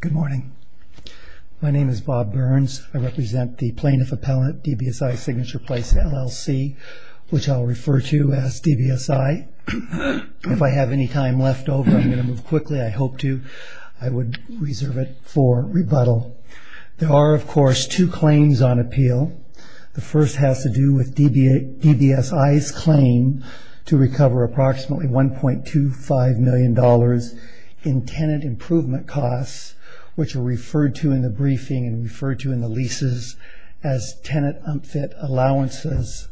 Good morning. My name is Bob Burns. I represent the Plaintiff Appellant DBSI Signature Place, LLC, which I'll refer to as DBSI. If I have any time left over, I'm going to move quickly. I hope to. I would reserve it for rebuttal. There are, of course, two claims on appeal. The first has to do with DBSI's claim to recover approximately $1.25 million in tenant improvement costs, which are referred to in the briefing and referred to in the leases as tenant unfit allowances.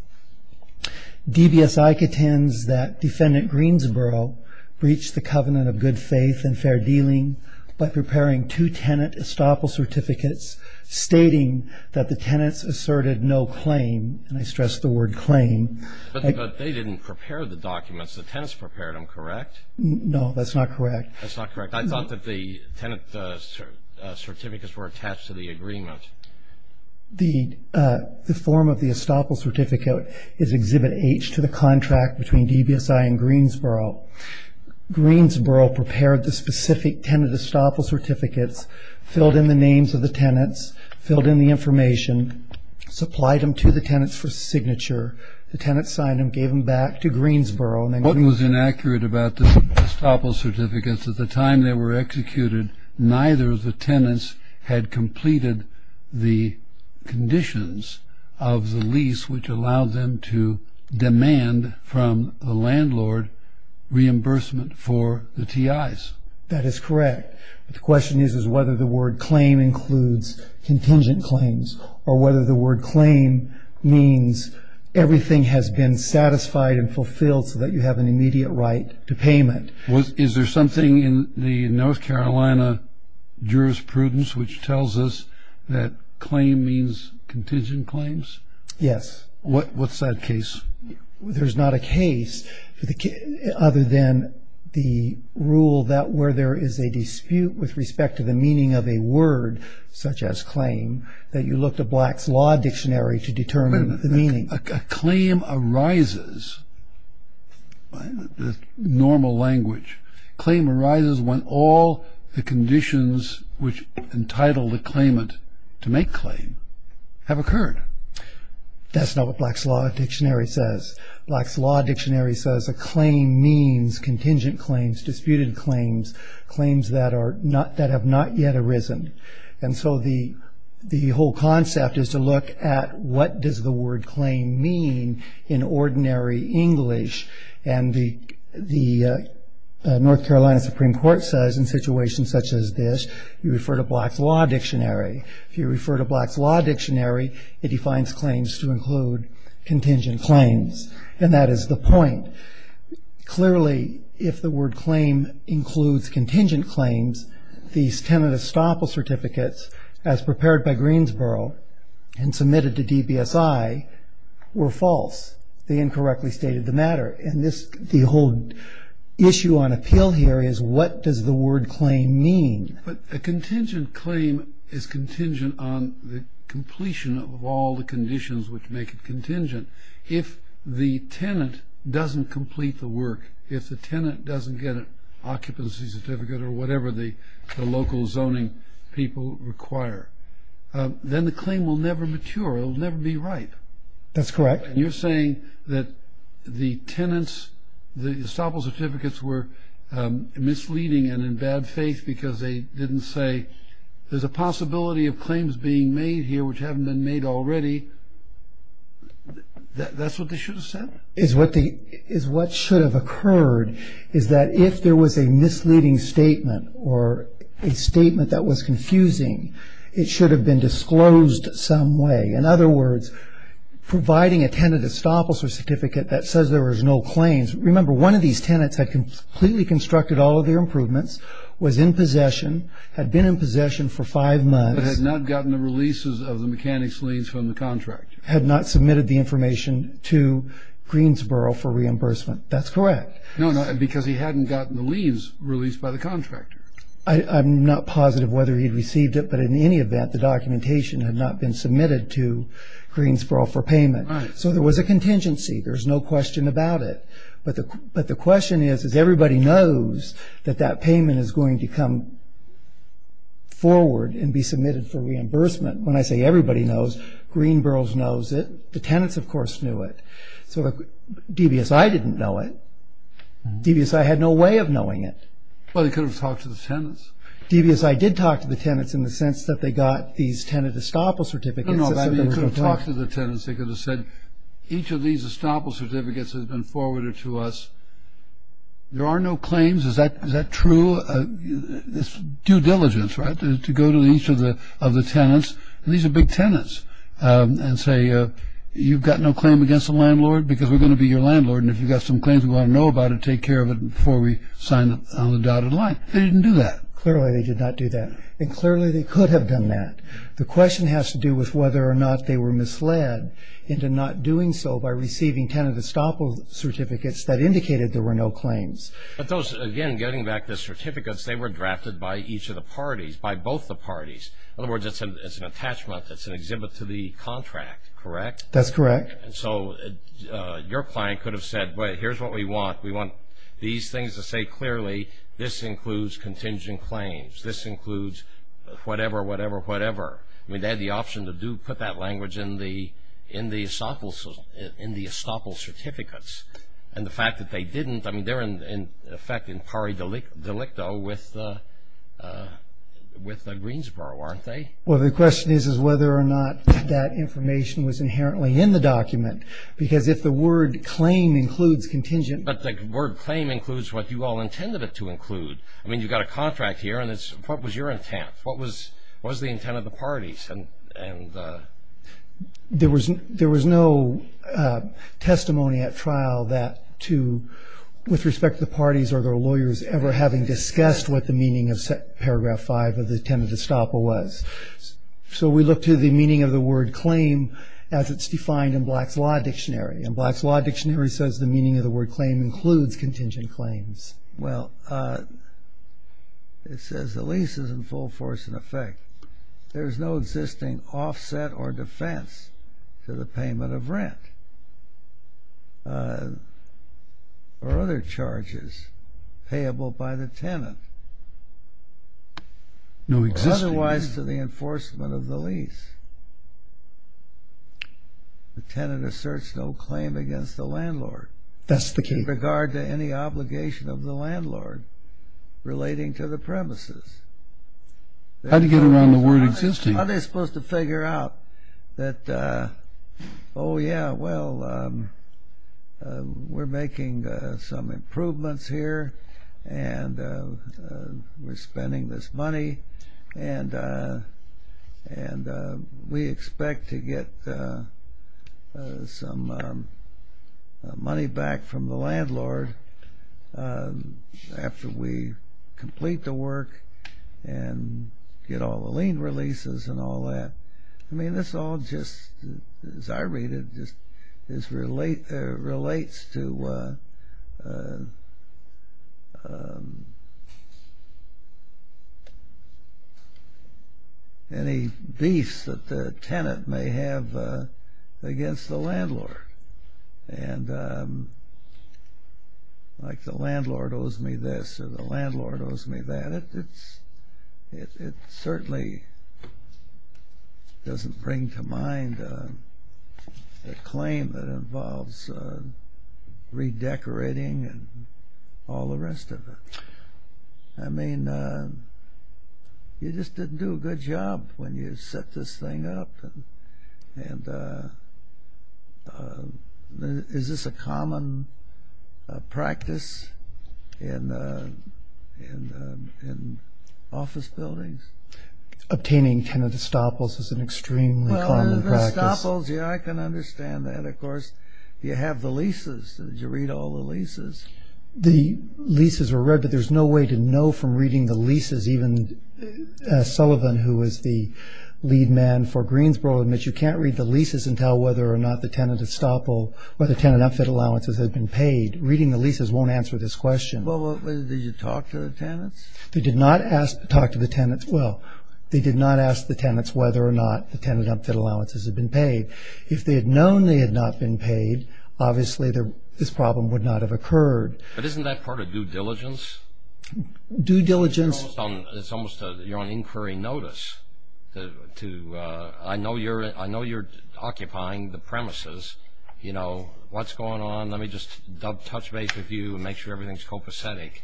DBSI contends that Defendant Greensboro breached the covenant of good faith and fair dealing by preparing two tenant estoppel certificates stating that the tenants asserted no claim. And I stress the word claim. But they didn't prepare the documents. The tenants prepared them, correct? No, that's not correct. That's not correct. I thought that the tenant certificates were attached to the agreement. The form of the estoppel certificate is Exhibit H to the contract between DBSI and Greensboro. Greensboro prepared the specific tenant estoppel certificates, filled in the names of the tenants, filled in the information, supplied them to the tenants for signature. The tenants signed them, gave them back to Greensboro. One was inaccurate about the estoppel certificates. At the time they were executed, neither of the tenants had completed the conditions of the lease, which allowed them to demand from the landlord reimbursement for the T.I.s. That is correct. But the question is whether the word claim includes contingent claims or whether the word claim means everything has been satisfied and fulfilled so that you have an immediate right to payment. Is there something in the North Carolina jurisprudence which tells us that claim means contingent claims? Yes. What's that case? There's not a case other than the rule that where there is a dispute with respect to the meaning of a word such as claim that you look to Black's Law Dictionary to determine the meaning. A claim arises, the normal language, claim arises when all the conditions which entitle the claimant to make claim have occurred. That's not what Black's Law Dictionary says. Black's Law Dictionary says a claim means contingent claims, disputed claims, claims that have not yet arisen. And so the whole concept is to look at what does the word claim mean in ordinary English. And the North Carolina Supreme Court says in situations such as this, you refer to Black's Law Dictionary. If you refer to Black's Law Dictionary, it defines claims to include contingent claims. And that is the point. Clearly, if the word claim includes contingent claims, these tenant estoppel certificates, as prepared by Greensboro and submitted to DBSI, were false. They incorrectly stated the matter. And the whole issue on appeal here is what does the word claim mean. But a contingent claim is contingent on the completion of all the conditions which make it contingent. If the tenant doesn't complete the work, if the tenant doesn't get an occupancy certificate or whatever the local zoning people require, then the claim will never mature. It will never be ripe. That's correct. And you're saying that the tenants, the estoppel certificates were misleading and in bad faith because they didn't say there's a possibility of claims being made here which haven't been made already. That's what they should have said? What should have occurred is that if there was a misleading statement or a statement that was confusing, it should have been disclosed some way. In other words, providing a tenant estoppel certificate that says there was no claims, remember one of these tenants had completely constructed all of their improvements, was in possession, had been in possession for five months. But had not gotten the releases of the mechanics leaves from the contractor. Had not submitted the information to Greensboro for reimbursement. That's correct. No, because he hadn't gotten the leaves released by the contractor. I'm not positive whether he received it, but in any event, the documentation had not been submitted to Greensboro for payment. Right. So there was a contingency. There's no question about it. But the question is, is everybody knows that that payment is going to come forward and be submitted for reimbursement. When I say everybody knows, Greensboro knows it. The tenants, of course, knew it. So DBSI didn't know it. DBSI had no way of knowing it. Well, they could have talked to the tenants. DBSI did talk to the tenants in the sense that they got these tenant estoppel certificates. I don't know. They could have talked to the tenants. They could have said, each of these estoppel certificates has been forwarded to us. There are no claims. Is that true? It's due diligence, right, to go to each of the tenants. And these are big tenants and say, you've got no claim against the landlord because we're going to be your landlord, and if you've got some claims we want to know about it, take care of it before we sign on the dotted line. They didn't do that. Clearly they did not do that. And clearly they could have done that. The question has to do with whether or not they were misled into not doing so by receiving tenant estoppel certificates that indicated there were no claims. But those, again, getting back the certificates, they were drafted by each of the parties, by both the parties. In other words, it's an attachment, it's an exhibit to the contract, correct? That's correct. And so your client could have said, here's what we want. We want these things to say clearly this includes contingent claims, this includes whatever, whatever, whatever. They had the option to put that language in the estoppel certificates. And the fact that they didn't, I mean, they're in effect in pari delicto with Greensboro, aren't they? Well, the question is whether or not that information was inherently in the document. Because if the word claim includes contingent. But the word claim includes what you all intended it to include. I mean, you've got a contract here, and what was your intent? What was the intent of the parties? There was no testimony at trial that to, with respect to the parties or their lawyers ever having discussed what the meaning of Paragraph 5 of the tenant estoppel was. So we look to the meaning of the word claim as it's defined in Black's Law Dictionary. And Black's Law Dictionary says the meaning of the word claim includes contingent claims. Well, it says the lease is in full force in effect. There's no existing offset or defense to the payment of rent or other charges payable by the tenant. Otherwise to the enforcement of the lease. The tenant asserts no claim against the landlord. That's the key. With regard to any obligation of the landlord relating to the premises. How do you get around the word existing? How are they supposed to figure out that, oh, yeah, well, we're making some improvements here and we're spending this money and we expect to get some money back from the landlord after we complete the work and get all the lien releases and all that. I mean, this all just, as I read it, just relates to any beefs that the tenant may have against the landlord. And like the landlord owes me this or the landlord owes me that. It certainly doesn't bring to mind the claim that involves redecorating and all the rest of it. I mean, you just didn't do a good job when you set this thing up. And is this a common practice in office buildings? Obtaining tenant estoppels is an extremely common practice. Estoppels, yeah, I can understand that. Of course, you have the leases. You read all the leases. The leases are read, but there's no way to know from reading the leases. Even Sullivan, who was the lead man for Greensboro, admits you can't read the leases and tell whether or not the tenant estoppel or the tenant unfit allowances have been paid. Reading the leases won't answer this question. Well, did you talk to the tenants? They did not talk to the tenants. Well, they did not ask the tenants whether or not the tenant unfit allowances had been paid. If they had known they had not been paid, obviously this problem would not have occurred. But isn't that part of due diligence? Due diligence? It's almost you're on inquiry notice. I know you're occupying the premises. You know, what's going on? Let me just touch base with you and make sure everything's copacetic.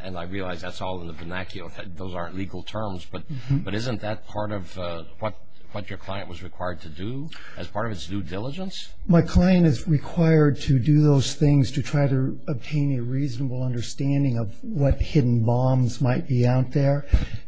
And I realize that's all in the vernacular. Those aren't legal terms. But isn't that part of what your client was required to do as part of its due diligence? My client is required to do those things to try to obtain a reasonable understanding of what hidden bombs might be out there.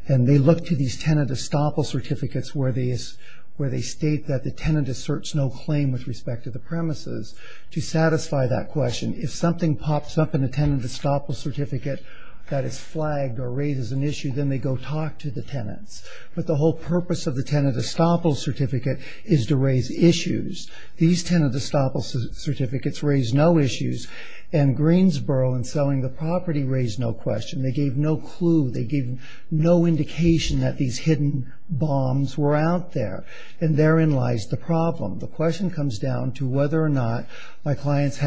And they look to these tenant estoppel certificates where they state that the tenant asserts no claim with respect to the premises. To satisfy that question, if something pops up in the tenant estoppel certificate that is flagged or raises an issue, then they go talk to the tenants. But the whole purpose of the tenant estoppel certificate is to raise issues. These tenant estoppel certificates raise no issues. And Greensboro in selling the property raised no question. They gave no clue. They gave no indication that these hidden bombs were out there. And therein lies the problem. The question comes down to whether or not my clients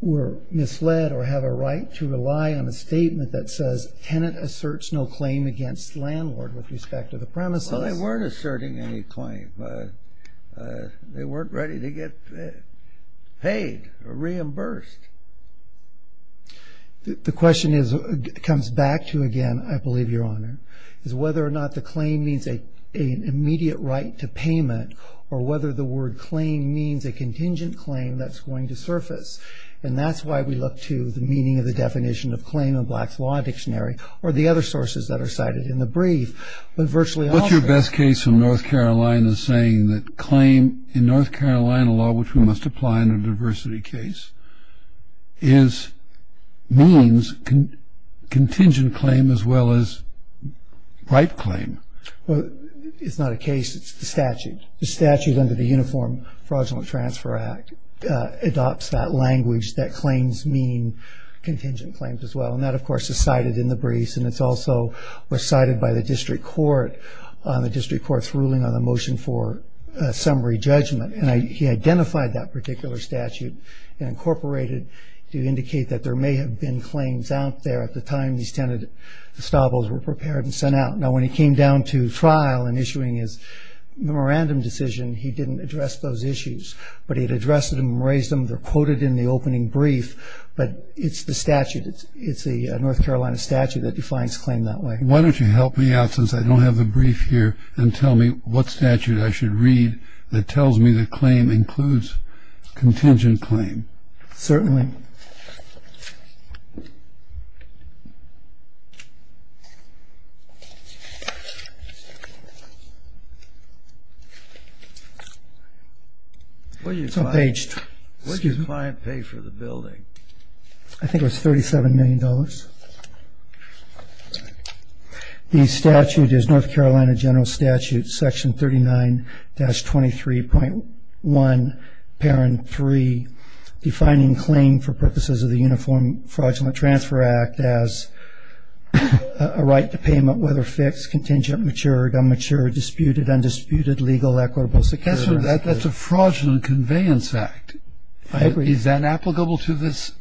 were misled or have a right to rely on a statement that says tenant asserts no claim against landlord with respect to the premises. Well, so they weren't asserting any claim. They weren't ready to get paid or reimbursed. The question comes back to, again, I believe, Your Honor, is whether or not the claim means an immediate right to payment or whether the word claim means a contingent claim that's going to surface. And that's why we look to the meaning of the definition of claim in Black's Law Dictionary or the other sources that are cited in the brief. What's your best case in North Carolina saying that claim in North Carolina law, which we must apply in a diversity case, means contingent claim as well as right claim? Well, it's not a case. It's the statute. The statute under the Uniform Fraudulent Transfer Act adopts that language that claims mean contingent claims as well. And that, of course, is cited in the brief. And it's also recited by the district court on the district court's ruling on the motion for a summary judgment. And he identified that particular statute and incorporated to indicate that there may have been claims out there at the time these tenet estables were prepared and sent out. Now, when he came down to trial and issuing his memorandum decision, he didn't address those issues. But he had addressed them and raised them. They're quoted in the opening brief. But it's the statute. It's the statute that defines claim that way. Why don't you help me out, since I don't have the brief here, and tell me what statute I should read that tells me that claim includes contingent claim? Certainly. What did your client pay for the building? I think it was $37 million. The statute is North Carolina General Statute, Section 39-23.1, Parent 3, defining claim for purposes of the Uniform Fraudulent Transfer Act as a right to payment, whether fixed, contingent, matured, unmatured, disputed, undisputed, legal, equitable, secure. That's a fraudulent conveyance act. I agree. Is that applicable to this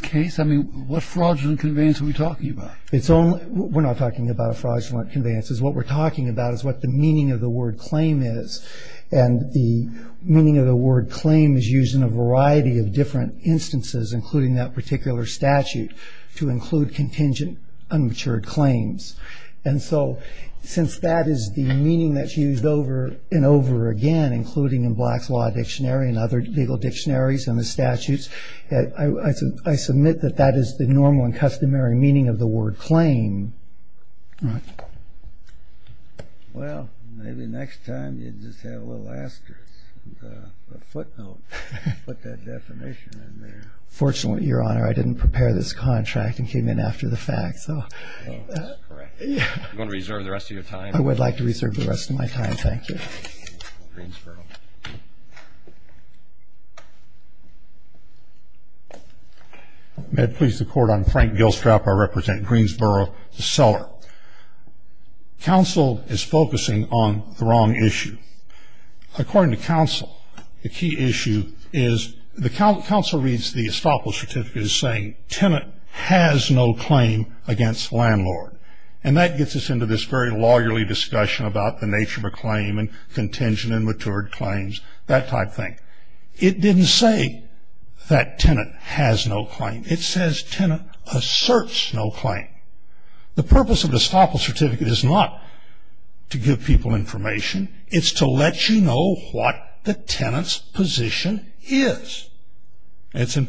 case? I mean, what fraudulent conveyance are we talking about? We're not talking about a fraudulent conveyance. What we're talking about is what the meaning of the word claim is. And the meaning of the word claim is used in a variety of different instances, including that particular statute, to include contingent, unmatured claims. And so since that is the meaning that's used over and over again, including in Black's Law Dictionary and other legal dictionaries and the statutes, I submit that that is the normal and customary meaning of the word claim. All right. Well, maybe next time you just have a little asterisk, a footnote. Put that definition in there. Fortunately, Your Honor, I didn't prepare this contract and came in after the fact. Oh, that's correct. You want to reserve the rest of your time? I would like to reserve the rest of my time. Thank you. Greensboro. May it please the Court, I'm Frank Gilstrap. I represent Greensboro, the seller. Counsel is focusing on the wrong issue. According to counsel, the key issue is the counsel reads the estoppel certificate as saying, tenant has no claim against landlord. And that gets us into this very lawyerly discussion about the nature of a claim and contingent and matured claims, that type thing. It didn't say that tenant has no claim. It says tenant asserts no claim. The purpose of the estoppel certificate is not to give people information. It's to let you know what the tenant's position is. It's in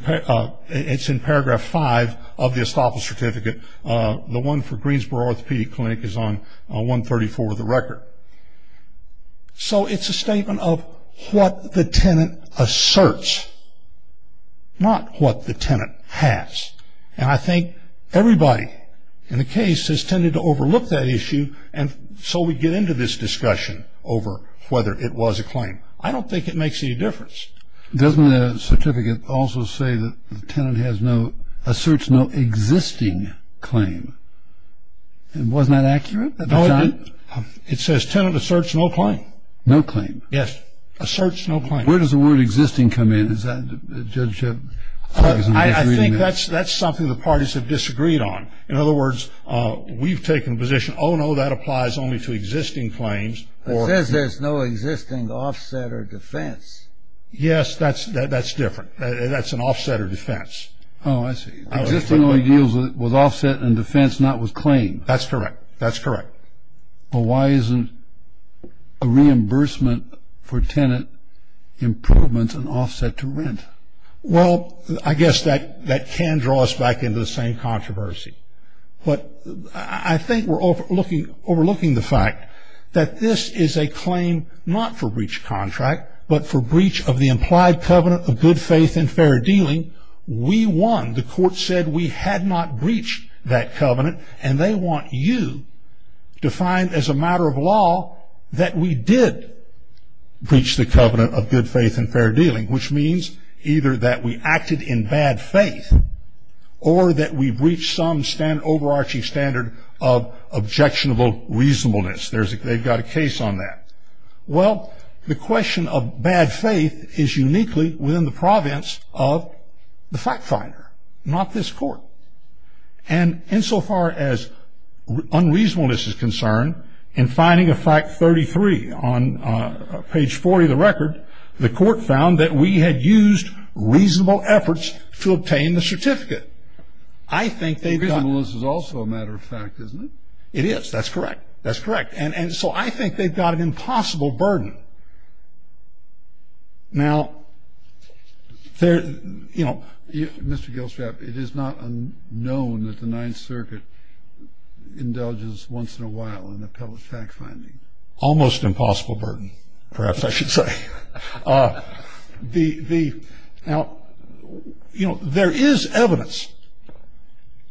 paragraph five of the estoppel certificate. The one for Greensboro Orthopedic Clinic is on 134 of the record. So it's a statement of what the tenant asserts, not what the tenant has. And I think everybody in the case has tended to overlook that issue, and so we get into this discussion over whether it was a claim. I don't think it makes any difference. Doesn't the certificate also say that the tenant asserts no existing claim? Wasn't that accurate? No, it didn't. It says tenant asserts no claim. No claim. Yes. Asserts no claim. Where does the word existing come in? Is that, Judge? I think that's something the parties have disagreed on. In other words, we've taken the position, oh, no, that applies only to existing claims. It says there's no existing offset or defense. Yes, that's different. That's an offset or defense. Oh, I see. Existing only deals with offset and defense, not with claim. That's correct. That's correct. But why isn't a reimbursement for tenant improvements an offset to rent? Well, I guess that can draw us back into the same controversy. But I think we're overlooking the fact that this is a claim not for breach contract, but for breach of the implied covenant of good faith and fair dealing. We won. The court said we had not breached that covenant, and they want you to find, as a matter of law, that we did breach the covenant of good faith and fair dealing, which means either that we acted in bad faith or that we breached some overarching standard of objectionable reasonableness. They've got a case on that. Well, the question of bad faith is uniquely within the province of the fact finder, not this court. And insofar as unreasonableness is concerned, in finding of fact 33 on page 40 of the record, the court found that we had used reasonable efforts to obtain the certificate. I think they've got. Reasonableness is also a matter of fact, isn't it? It is. That's correct. That's correct. And so I think they've got an impossible burden. Now, you know. Mr. Gilstrap, it is not unknown that the Ninth Circuit indulges once in a while in appellate fact finding. Almost impossible burden, perhaps I should say. Now, you know, there is evidence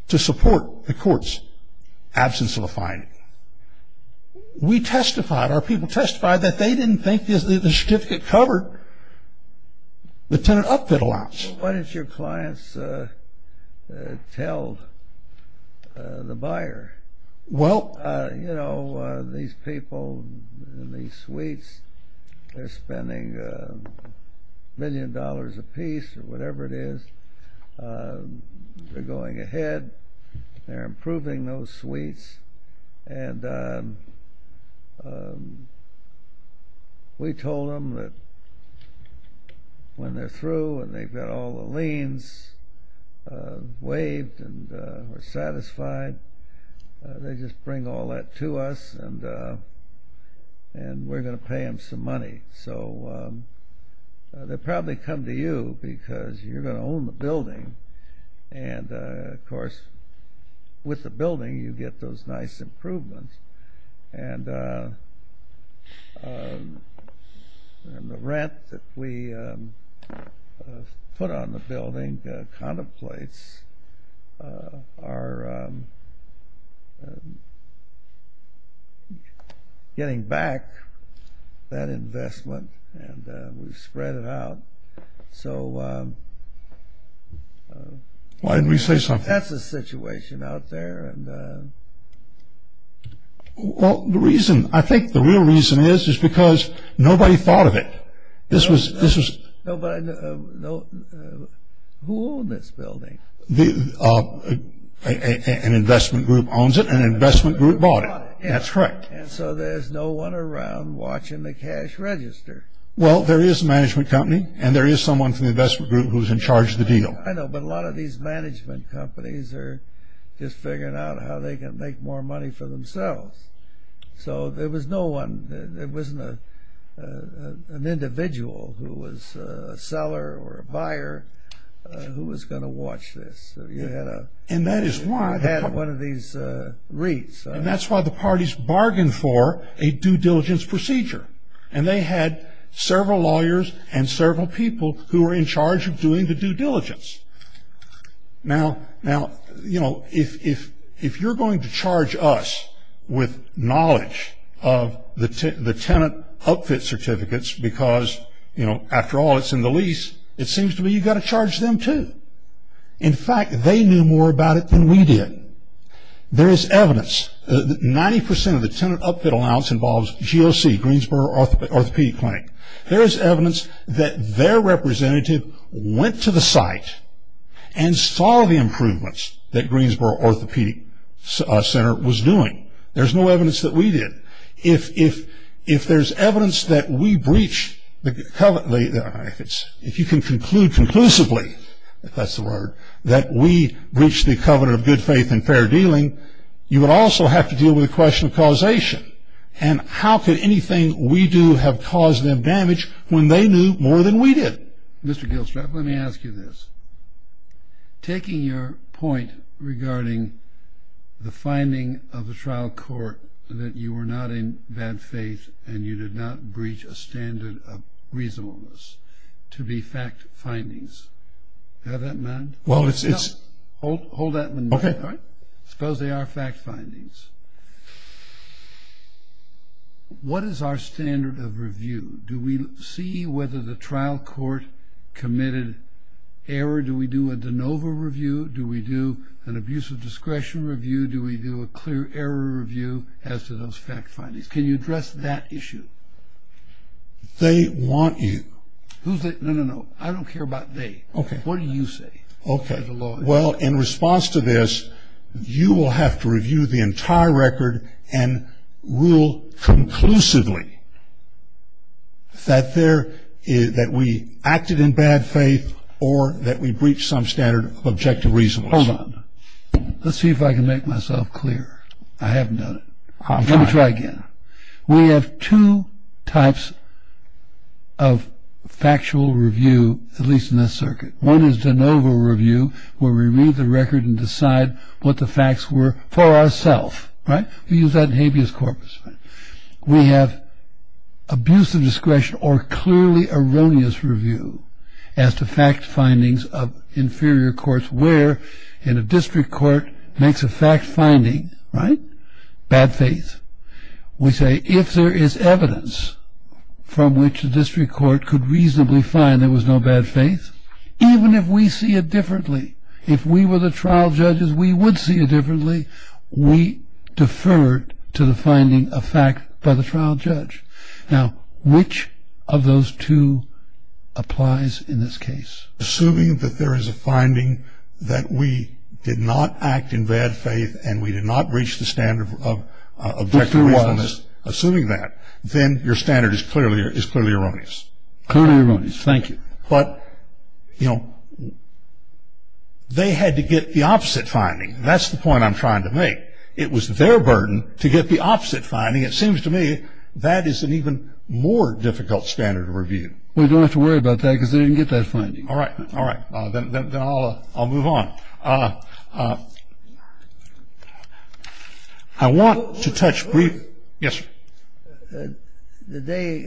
to support the court's absence of a finding. We testified, our people testified, that they didn't think the certificate covered the tenant outfit allowance. Why don't your clients tell the buyer, you know, these people in these suites, they're spending a million dollars apiece or whatever it is. They're going ahead. And we told them that when they're through and they've got all the liens waived and are satisfied, they just bring all that to us and we're going to pay them some money. So they'll probably come to you because you're going to own the building. And, of course, with the building you get those nice improvements. And the rent that we put on the building contemplates our getting back that investment and we've spread it out. So that's the situation out there. Well, the reason, I think the real reason is, is because nobody thought of it. Who owned this building? An investment group owns it and an investment group bought it. That's correct. And so there's no one around watching the cash register. Well, there is a management company and there is someone from the investment group who's in charge of the deal. I know, but a lot of these management companies are just figuring out how they can make more money for themselves. So there was no one. There wasn't an individual who was a seller or a buyer who was going to watch this. And that is why. You had one of these reeds. And that's why the parties bargained for a due diligence procedure. And they had several lawyers and several people who were in charge of doing the due diligence. Now, you know, if you're going to charge us with knowledge of the tenant outfit certificates because, you know, after all it's in the lease, it seems to me you've got to charge them too. In fact, they knew more about it than we did. There is evidence that 90% of the tenant outfit allowance involves GOC, Greensboro Orthopedic Clinic. There is evidence that their representative went to the site and saw the improvements that Greensboro Orthopedic Center was doing. There's no evidence that we did. If there's evidence that we breached the covenant, if you can conclude conclusively, if that's the word, that we breached the covenant of good faith and fair dealing, you would also have to deal with the question of causation. And how could anything we do have caused them damage when they knew more than we did? Mr. Gilstrap, let me ask you this. Taking your point regarding the finding of the trial court that you were not in bad faith and you did not breach a standard of reasonableness to be fact findings, does that matter? Well, it's... Hold that one. Okay. Suppose they are fact findings. What is our standard of review? Do we see whether the trial court committed error? Do we do a de novo review? Do we do an abuse of discretion review? Do we do a clear error review as to those fact findings? Can you address that issue? They want you. Who's they? No, no, no. I don't care about they. Okay. What do you say? Okay. Well, in response to this, you will have to review the entire record and rule conclusively that we acted in bad faith or that we breached some standard of objective reasonableness. Hold on. Let's see if I can make myself clear. I haven't done it. Let me try again. We have two types of factual review, at least in this circuit. One is de novo review where we read the record and decide what the facts were for ourself, right? We use that in habeas corpus. We have abuse of discretion or clearly erroneous review as to fact findings of inferior courts where in a district court makes a fact finding, right, bad faith. We say if there is evidence from which a district court could reasonably find there was no bad faith, even if we see it differently, if we were the trial judges, we would see it differently. We defer to the finding of fact by the trial judge. Now, which of those two applies in this case? Assuming that there is a finding that we did not act in bad faith and we did not breach the standard of objective reasonableness, assuming that, then your standard is clearly erroneous. Clearly erroneous. Thank you. But, you know, they had to get the opposite finding. That's the point I'm trying to make. It was their burden to get the opposite finding. It seems to me that is an even more difficult standard of review. We don't have to worry about that because they didn't get that finding. All right. All right. Then I'll move on. I want to touch briefly. Yes, sir. The day,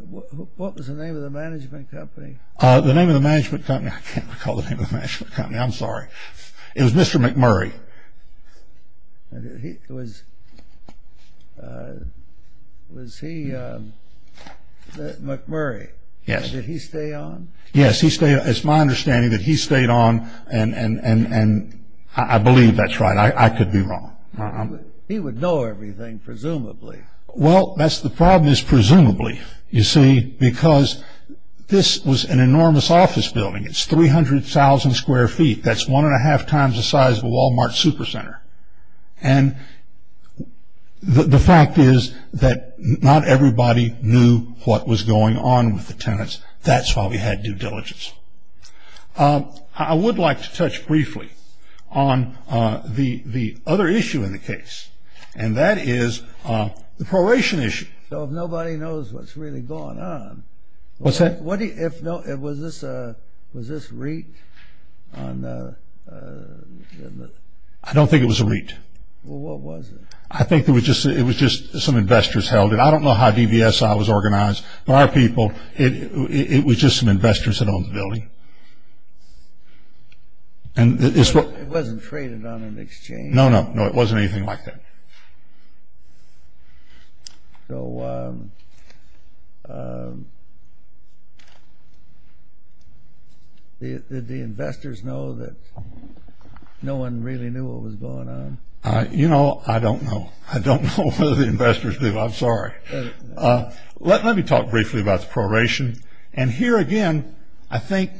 what was the name of the management company? The name of the management company, I can't recall the name of the management company. I'm sorry. It was Mr. McMurray. Was he McMurray? Yes. Did he stay on? Yes. It's my understanding that he stayed on and I believe that's right. I could be wrong. He would know everything, presumably. Well, that's the problem is presumably, you see, because this was an enormous office building. It's 300,000 square feet. That's one and a half times the size of a Walmart super center. And the fact is that not everybody knew what was going on with the tenants. That's why we had due diligence. I would like to touch briefly on the other issue in the case, and that is the proration issue. So if nobody knows what's really going on. What's that? Was this REIT? I don't think it was a REIT. Well, what was it? I think it was just some investors held it. I don't know how DVSI was organized, but our people, it was just some investors that owned the building. It wasn't traded on an exchange? No, no, no, it wasn't anything like that. So did the investors know that no one really knew what was going on? You know, I don't know. I don't know whether the investors did. I'm sorry. Let me talk briefly about the proration. And here again, I think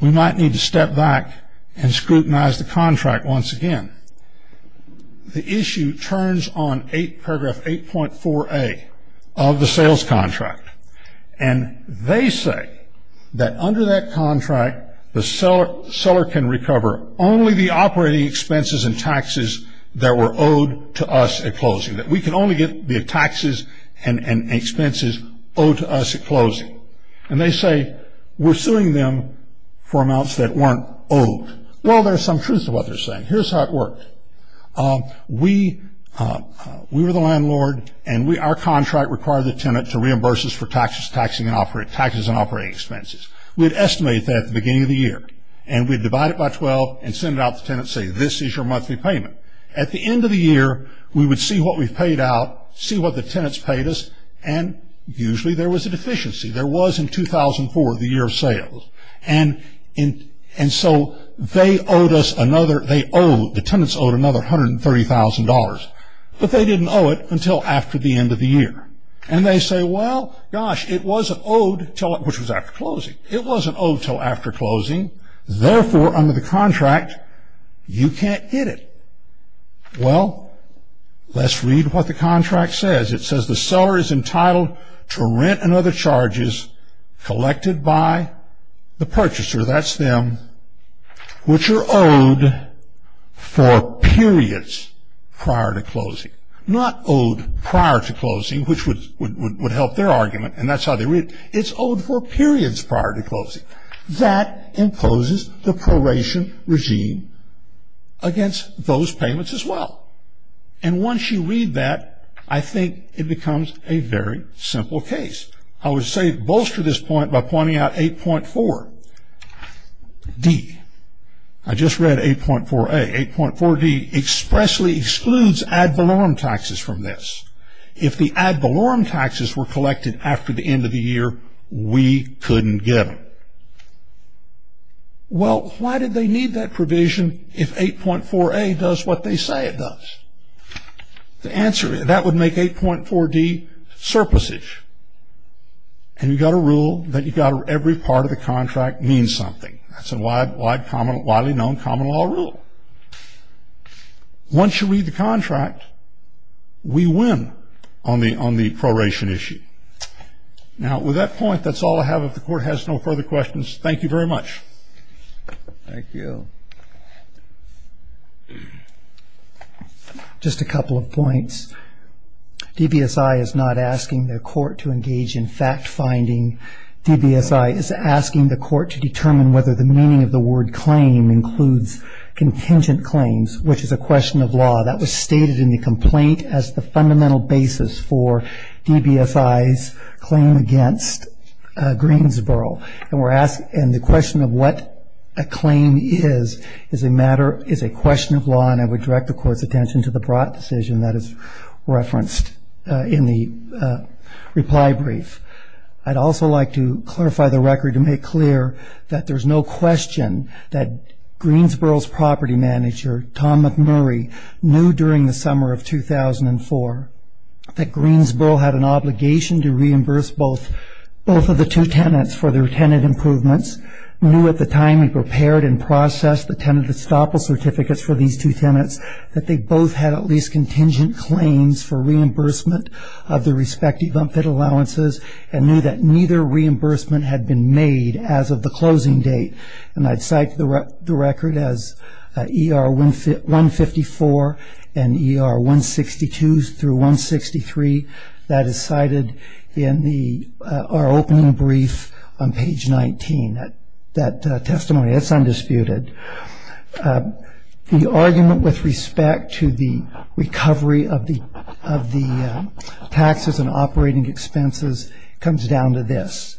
we might need to step back and scrutinize the contract once again. The issue turns on paragraph 8.4a of the sales contract. And they say that under that contract, the seller can recover only the operating expenses and taxes that were owed to us at closing. That we can only get the taxes and expenses owed to us at closing. And they say we're suing them for amounts that weren't owed. Well, there's some truth to what they're saying. Here's how it worked. We were the landlord, and our contract required the tenant to reimburse us for taxes and operating expenses. We'd estimate that at the beginning of the year. And we'd divide it by 12 and send it out to the tenant and say, this is your monthly payment. At the end of the year, we would see what we paid out, see what the tenants paid us, and usually there was a deficiency. There was in 2004, the year of sales. And so they owed us another, they owed, the tenants owed another $130,000. But they didn't owe it until after the end of the year. And they say, well, gosh, it wasn't owed until, which was after closing. It wasn't owed until after closing. Therefore, under the contract, you can't get it. Well, let's read what the contract says. It says the seller is entitled to rent and other charges collected by the purchaser, that's them, which are owed for periods prior to closing. Not owed prior to closing, which would help their argument, and that's how they read it. It's owed for periods prior to closing. That imposes the proration regime against those payments as well. And once you read that, I think it becomes a very simple case. I would say bolster this point by pointing out 8.4D. I just read 8.4A. 8.4D expressly excludes ad valorem taxes from this. If the ad valorem taxes were collected after the end of the year, we couldn't get them. Well, why did they need that provision if 8.4A does what they say it does? The answer, that would make 8.4D surplusage. And you've got a rule that you've got every part of the contract means something. That's a widely known common law rule. Once you read the contract, we win on the proration issue. Now, with that point, that's all I have. If the court has no further questions, thank you very much. Thank you. Just a couple of points. DBSI is not asking the court to engage in fact-finding. DBSI is asking the court to determine whether the meaning of the word claim includes contingent claims, which is a question of law. That was stated in the complaint as the fundamental basis for DBSI's claim against Greensboro. And the question of what a claim is is a question of law, and I would direct the court's attention to the broad decision that is referenced in the reply brief. I'd also like to clarify the record to make clear that there's no question that Greensboro's property manager, Tom McMurray, knew during the summer of 2004 that Greensboro had an obligation to reimburse both of the two tenants for their tenant improvements, knew at the time he prepared and processed the tenant estoppel certificates for these two tenants, that they both had at least contingent claims for reimbursement of their respective unfit allowances, and knew that neither reimbursement had been made as of the closing date. And I'd cite the record as ER 154 and ER 162 through 163. That is cited in our opening brief on page 19, that testimony. That's undisputed. The argument with respect to the recovery of the taxes and operating expenses comes down to this.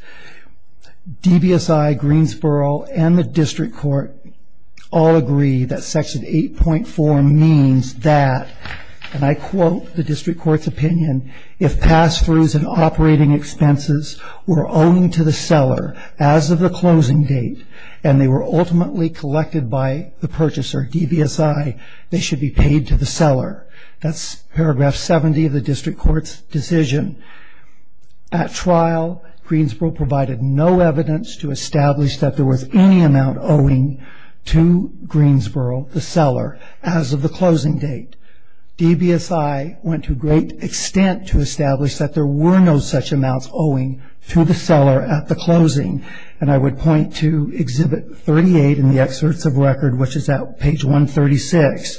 DBSI, Greensboro, and the district court all agree that section 8.4 means that, and I quote the district court's opinion, if pass-throughs and operating expenses were owing to the seller as of the closing date and they were ultimately collected by the purchaser, DBSI, they should be paid to the seller. That's paragraph 70 of the district court's decision. At trial, Greensboro provided no evidence to establish that there was any amount owing to Greensboro, the seller, as of the closing date. DBSI went to great extent to establish that there were no such amounts owing to the seller at the closing. And I would point to Exhibit 38 in the excerpts of record, which is at page 136.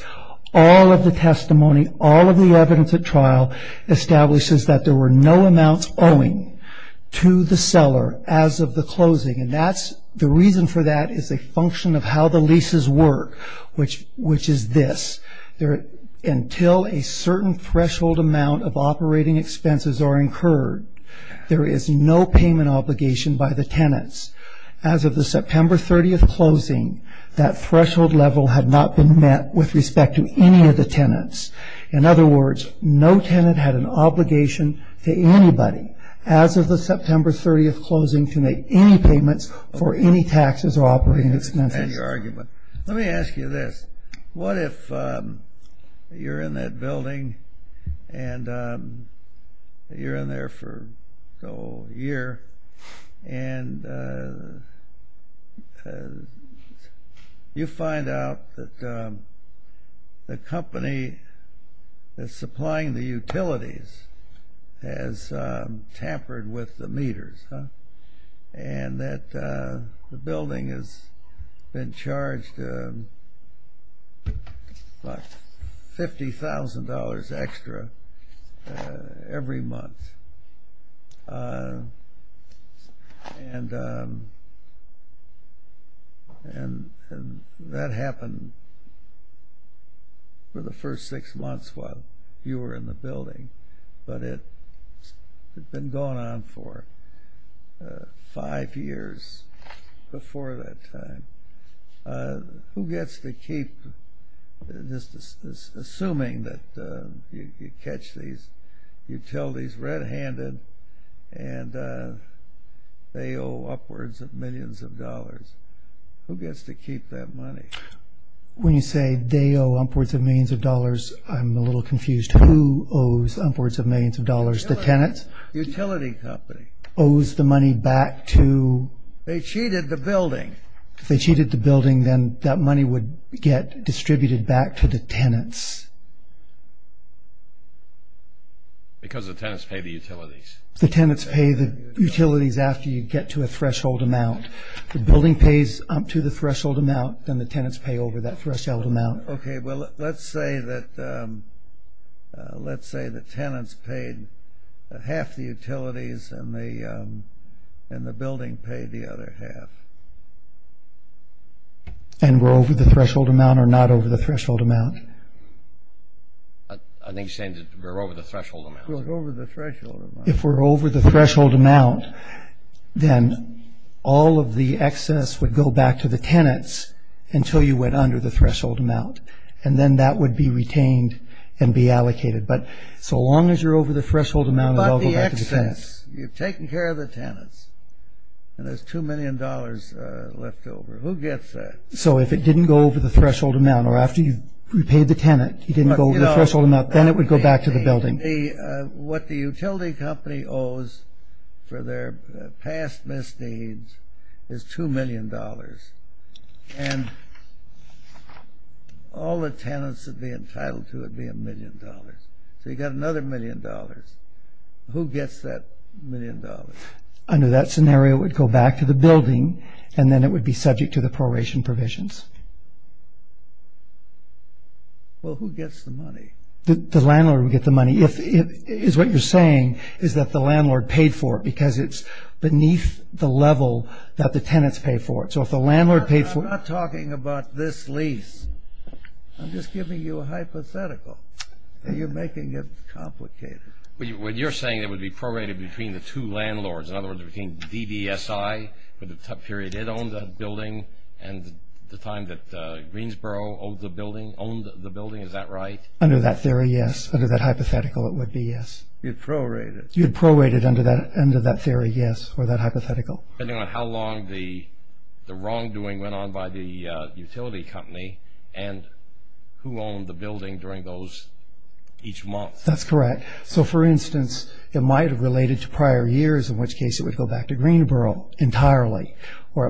All of the testimony, all of the evidence at trial, establishes that there were no amounts owing to the seller as of the closing. And the reason for that is a function of how the leases work, which is this. Until a certain threshold amount of operating expenses are incurred, there is no payment obligation by the tenants. As of the September 30th closing, that threshold level had not been met with respect to any of the tenants. In other words, no tenant had an obligation to anybody as of the September 30th closing to make any payments for any taxes or operating expenses. And your argument. Let me ask you this. What if you're in that building, and you're in there for a year, and you find out that the company that's supplying the utilities has tampered with the meters, and that the building has been charged, what, $50,000 extra every month. And that happened for the first six months while you were in the building. But it had been going on for five years before that time. Who gets to keep, assuming that you catch these utilities red-handed, and they owe upwards of millions of dollars, who gets to keep that money? When you say they owe upwards of millions of dollars, I'm a little confused. Who owes upwards of millions of dollars? The tenants? Utility company. Owes the money back to? They cheated the building. If they cheated the building, then that money would get distributed back to the tenants. Because the tenants pay the utilities. The tenants pay the utilities after you get to a threshold amount. If the building pays up to the threshold amount, then the tenants pay over that threshold amount. Okay, well, let's say that tenants paid half the utilities, and the building paid the other half. And we're over the threshold amount or not over the threshold amount? I think he's saying that we're over the threshold amount. We're over the threshold amount. If we're over the threshold amount, then all of the excess would go back to the tenants until you went under the threshold amount, and then that would be retained and be allocated. But so long as you're over the threshold amount, it all goes back to the tenants. But the excess, you've taken care of the tenants, and there's $2 million left over. Who gets that? So if it didn't go over the threshold amount, or after you repaid the tenant, you didn't go over the threshold amount, then it would go back to the building. What the utility company owes for their past misdeeds is $2 million, and all the tenants that would be entitled to it would be $1 million. So you've got another $1 million. Who gets that $1 million? Under that scenario, it would go back to the building, and then it would be subject to the proration provisions. Well, who gets the money? The landlord would get the money. What you're saying is that the landlord paid for it because it's beneath the level that the tenants paid for it. So if the landlord paid for it – I'm not talking about this lease. I'm just giving you a hypothetical, and you're making it complicated. But you're saying it would be prorated between the two landlords, in other words, between DDSI for the period it owned that building and the time that Greensboro owned the building, is that right? Under that theory, yes. Under that hypothetical, it would be yes. You'd prorate it. You'd prorate it under that theory, yes, or that hypothetical. Depending on how long the wrongdoing went on by the utility company and who owned the building during those each month. That's correct. So, for instance, it might have related to prior years, in which case it would go back to Greensboro entirely, or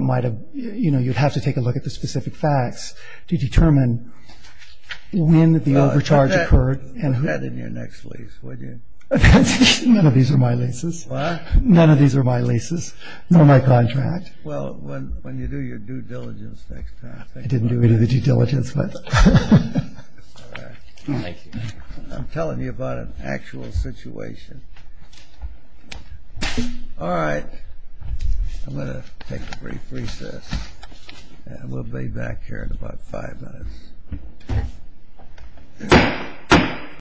you'd have to take a look at the specific facts to determine when the overcharge occurred. Well, put that in your next lease, would you? None of these are my leases. What? None of these are my leases, nor my contract. Well, when you do your due diligence next time. I didn't do any of the due diligence. I'm telling you about an actual situation. All right. I'm going to take a brief recess. We'll be back here in about five minutes.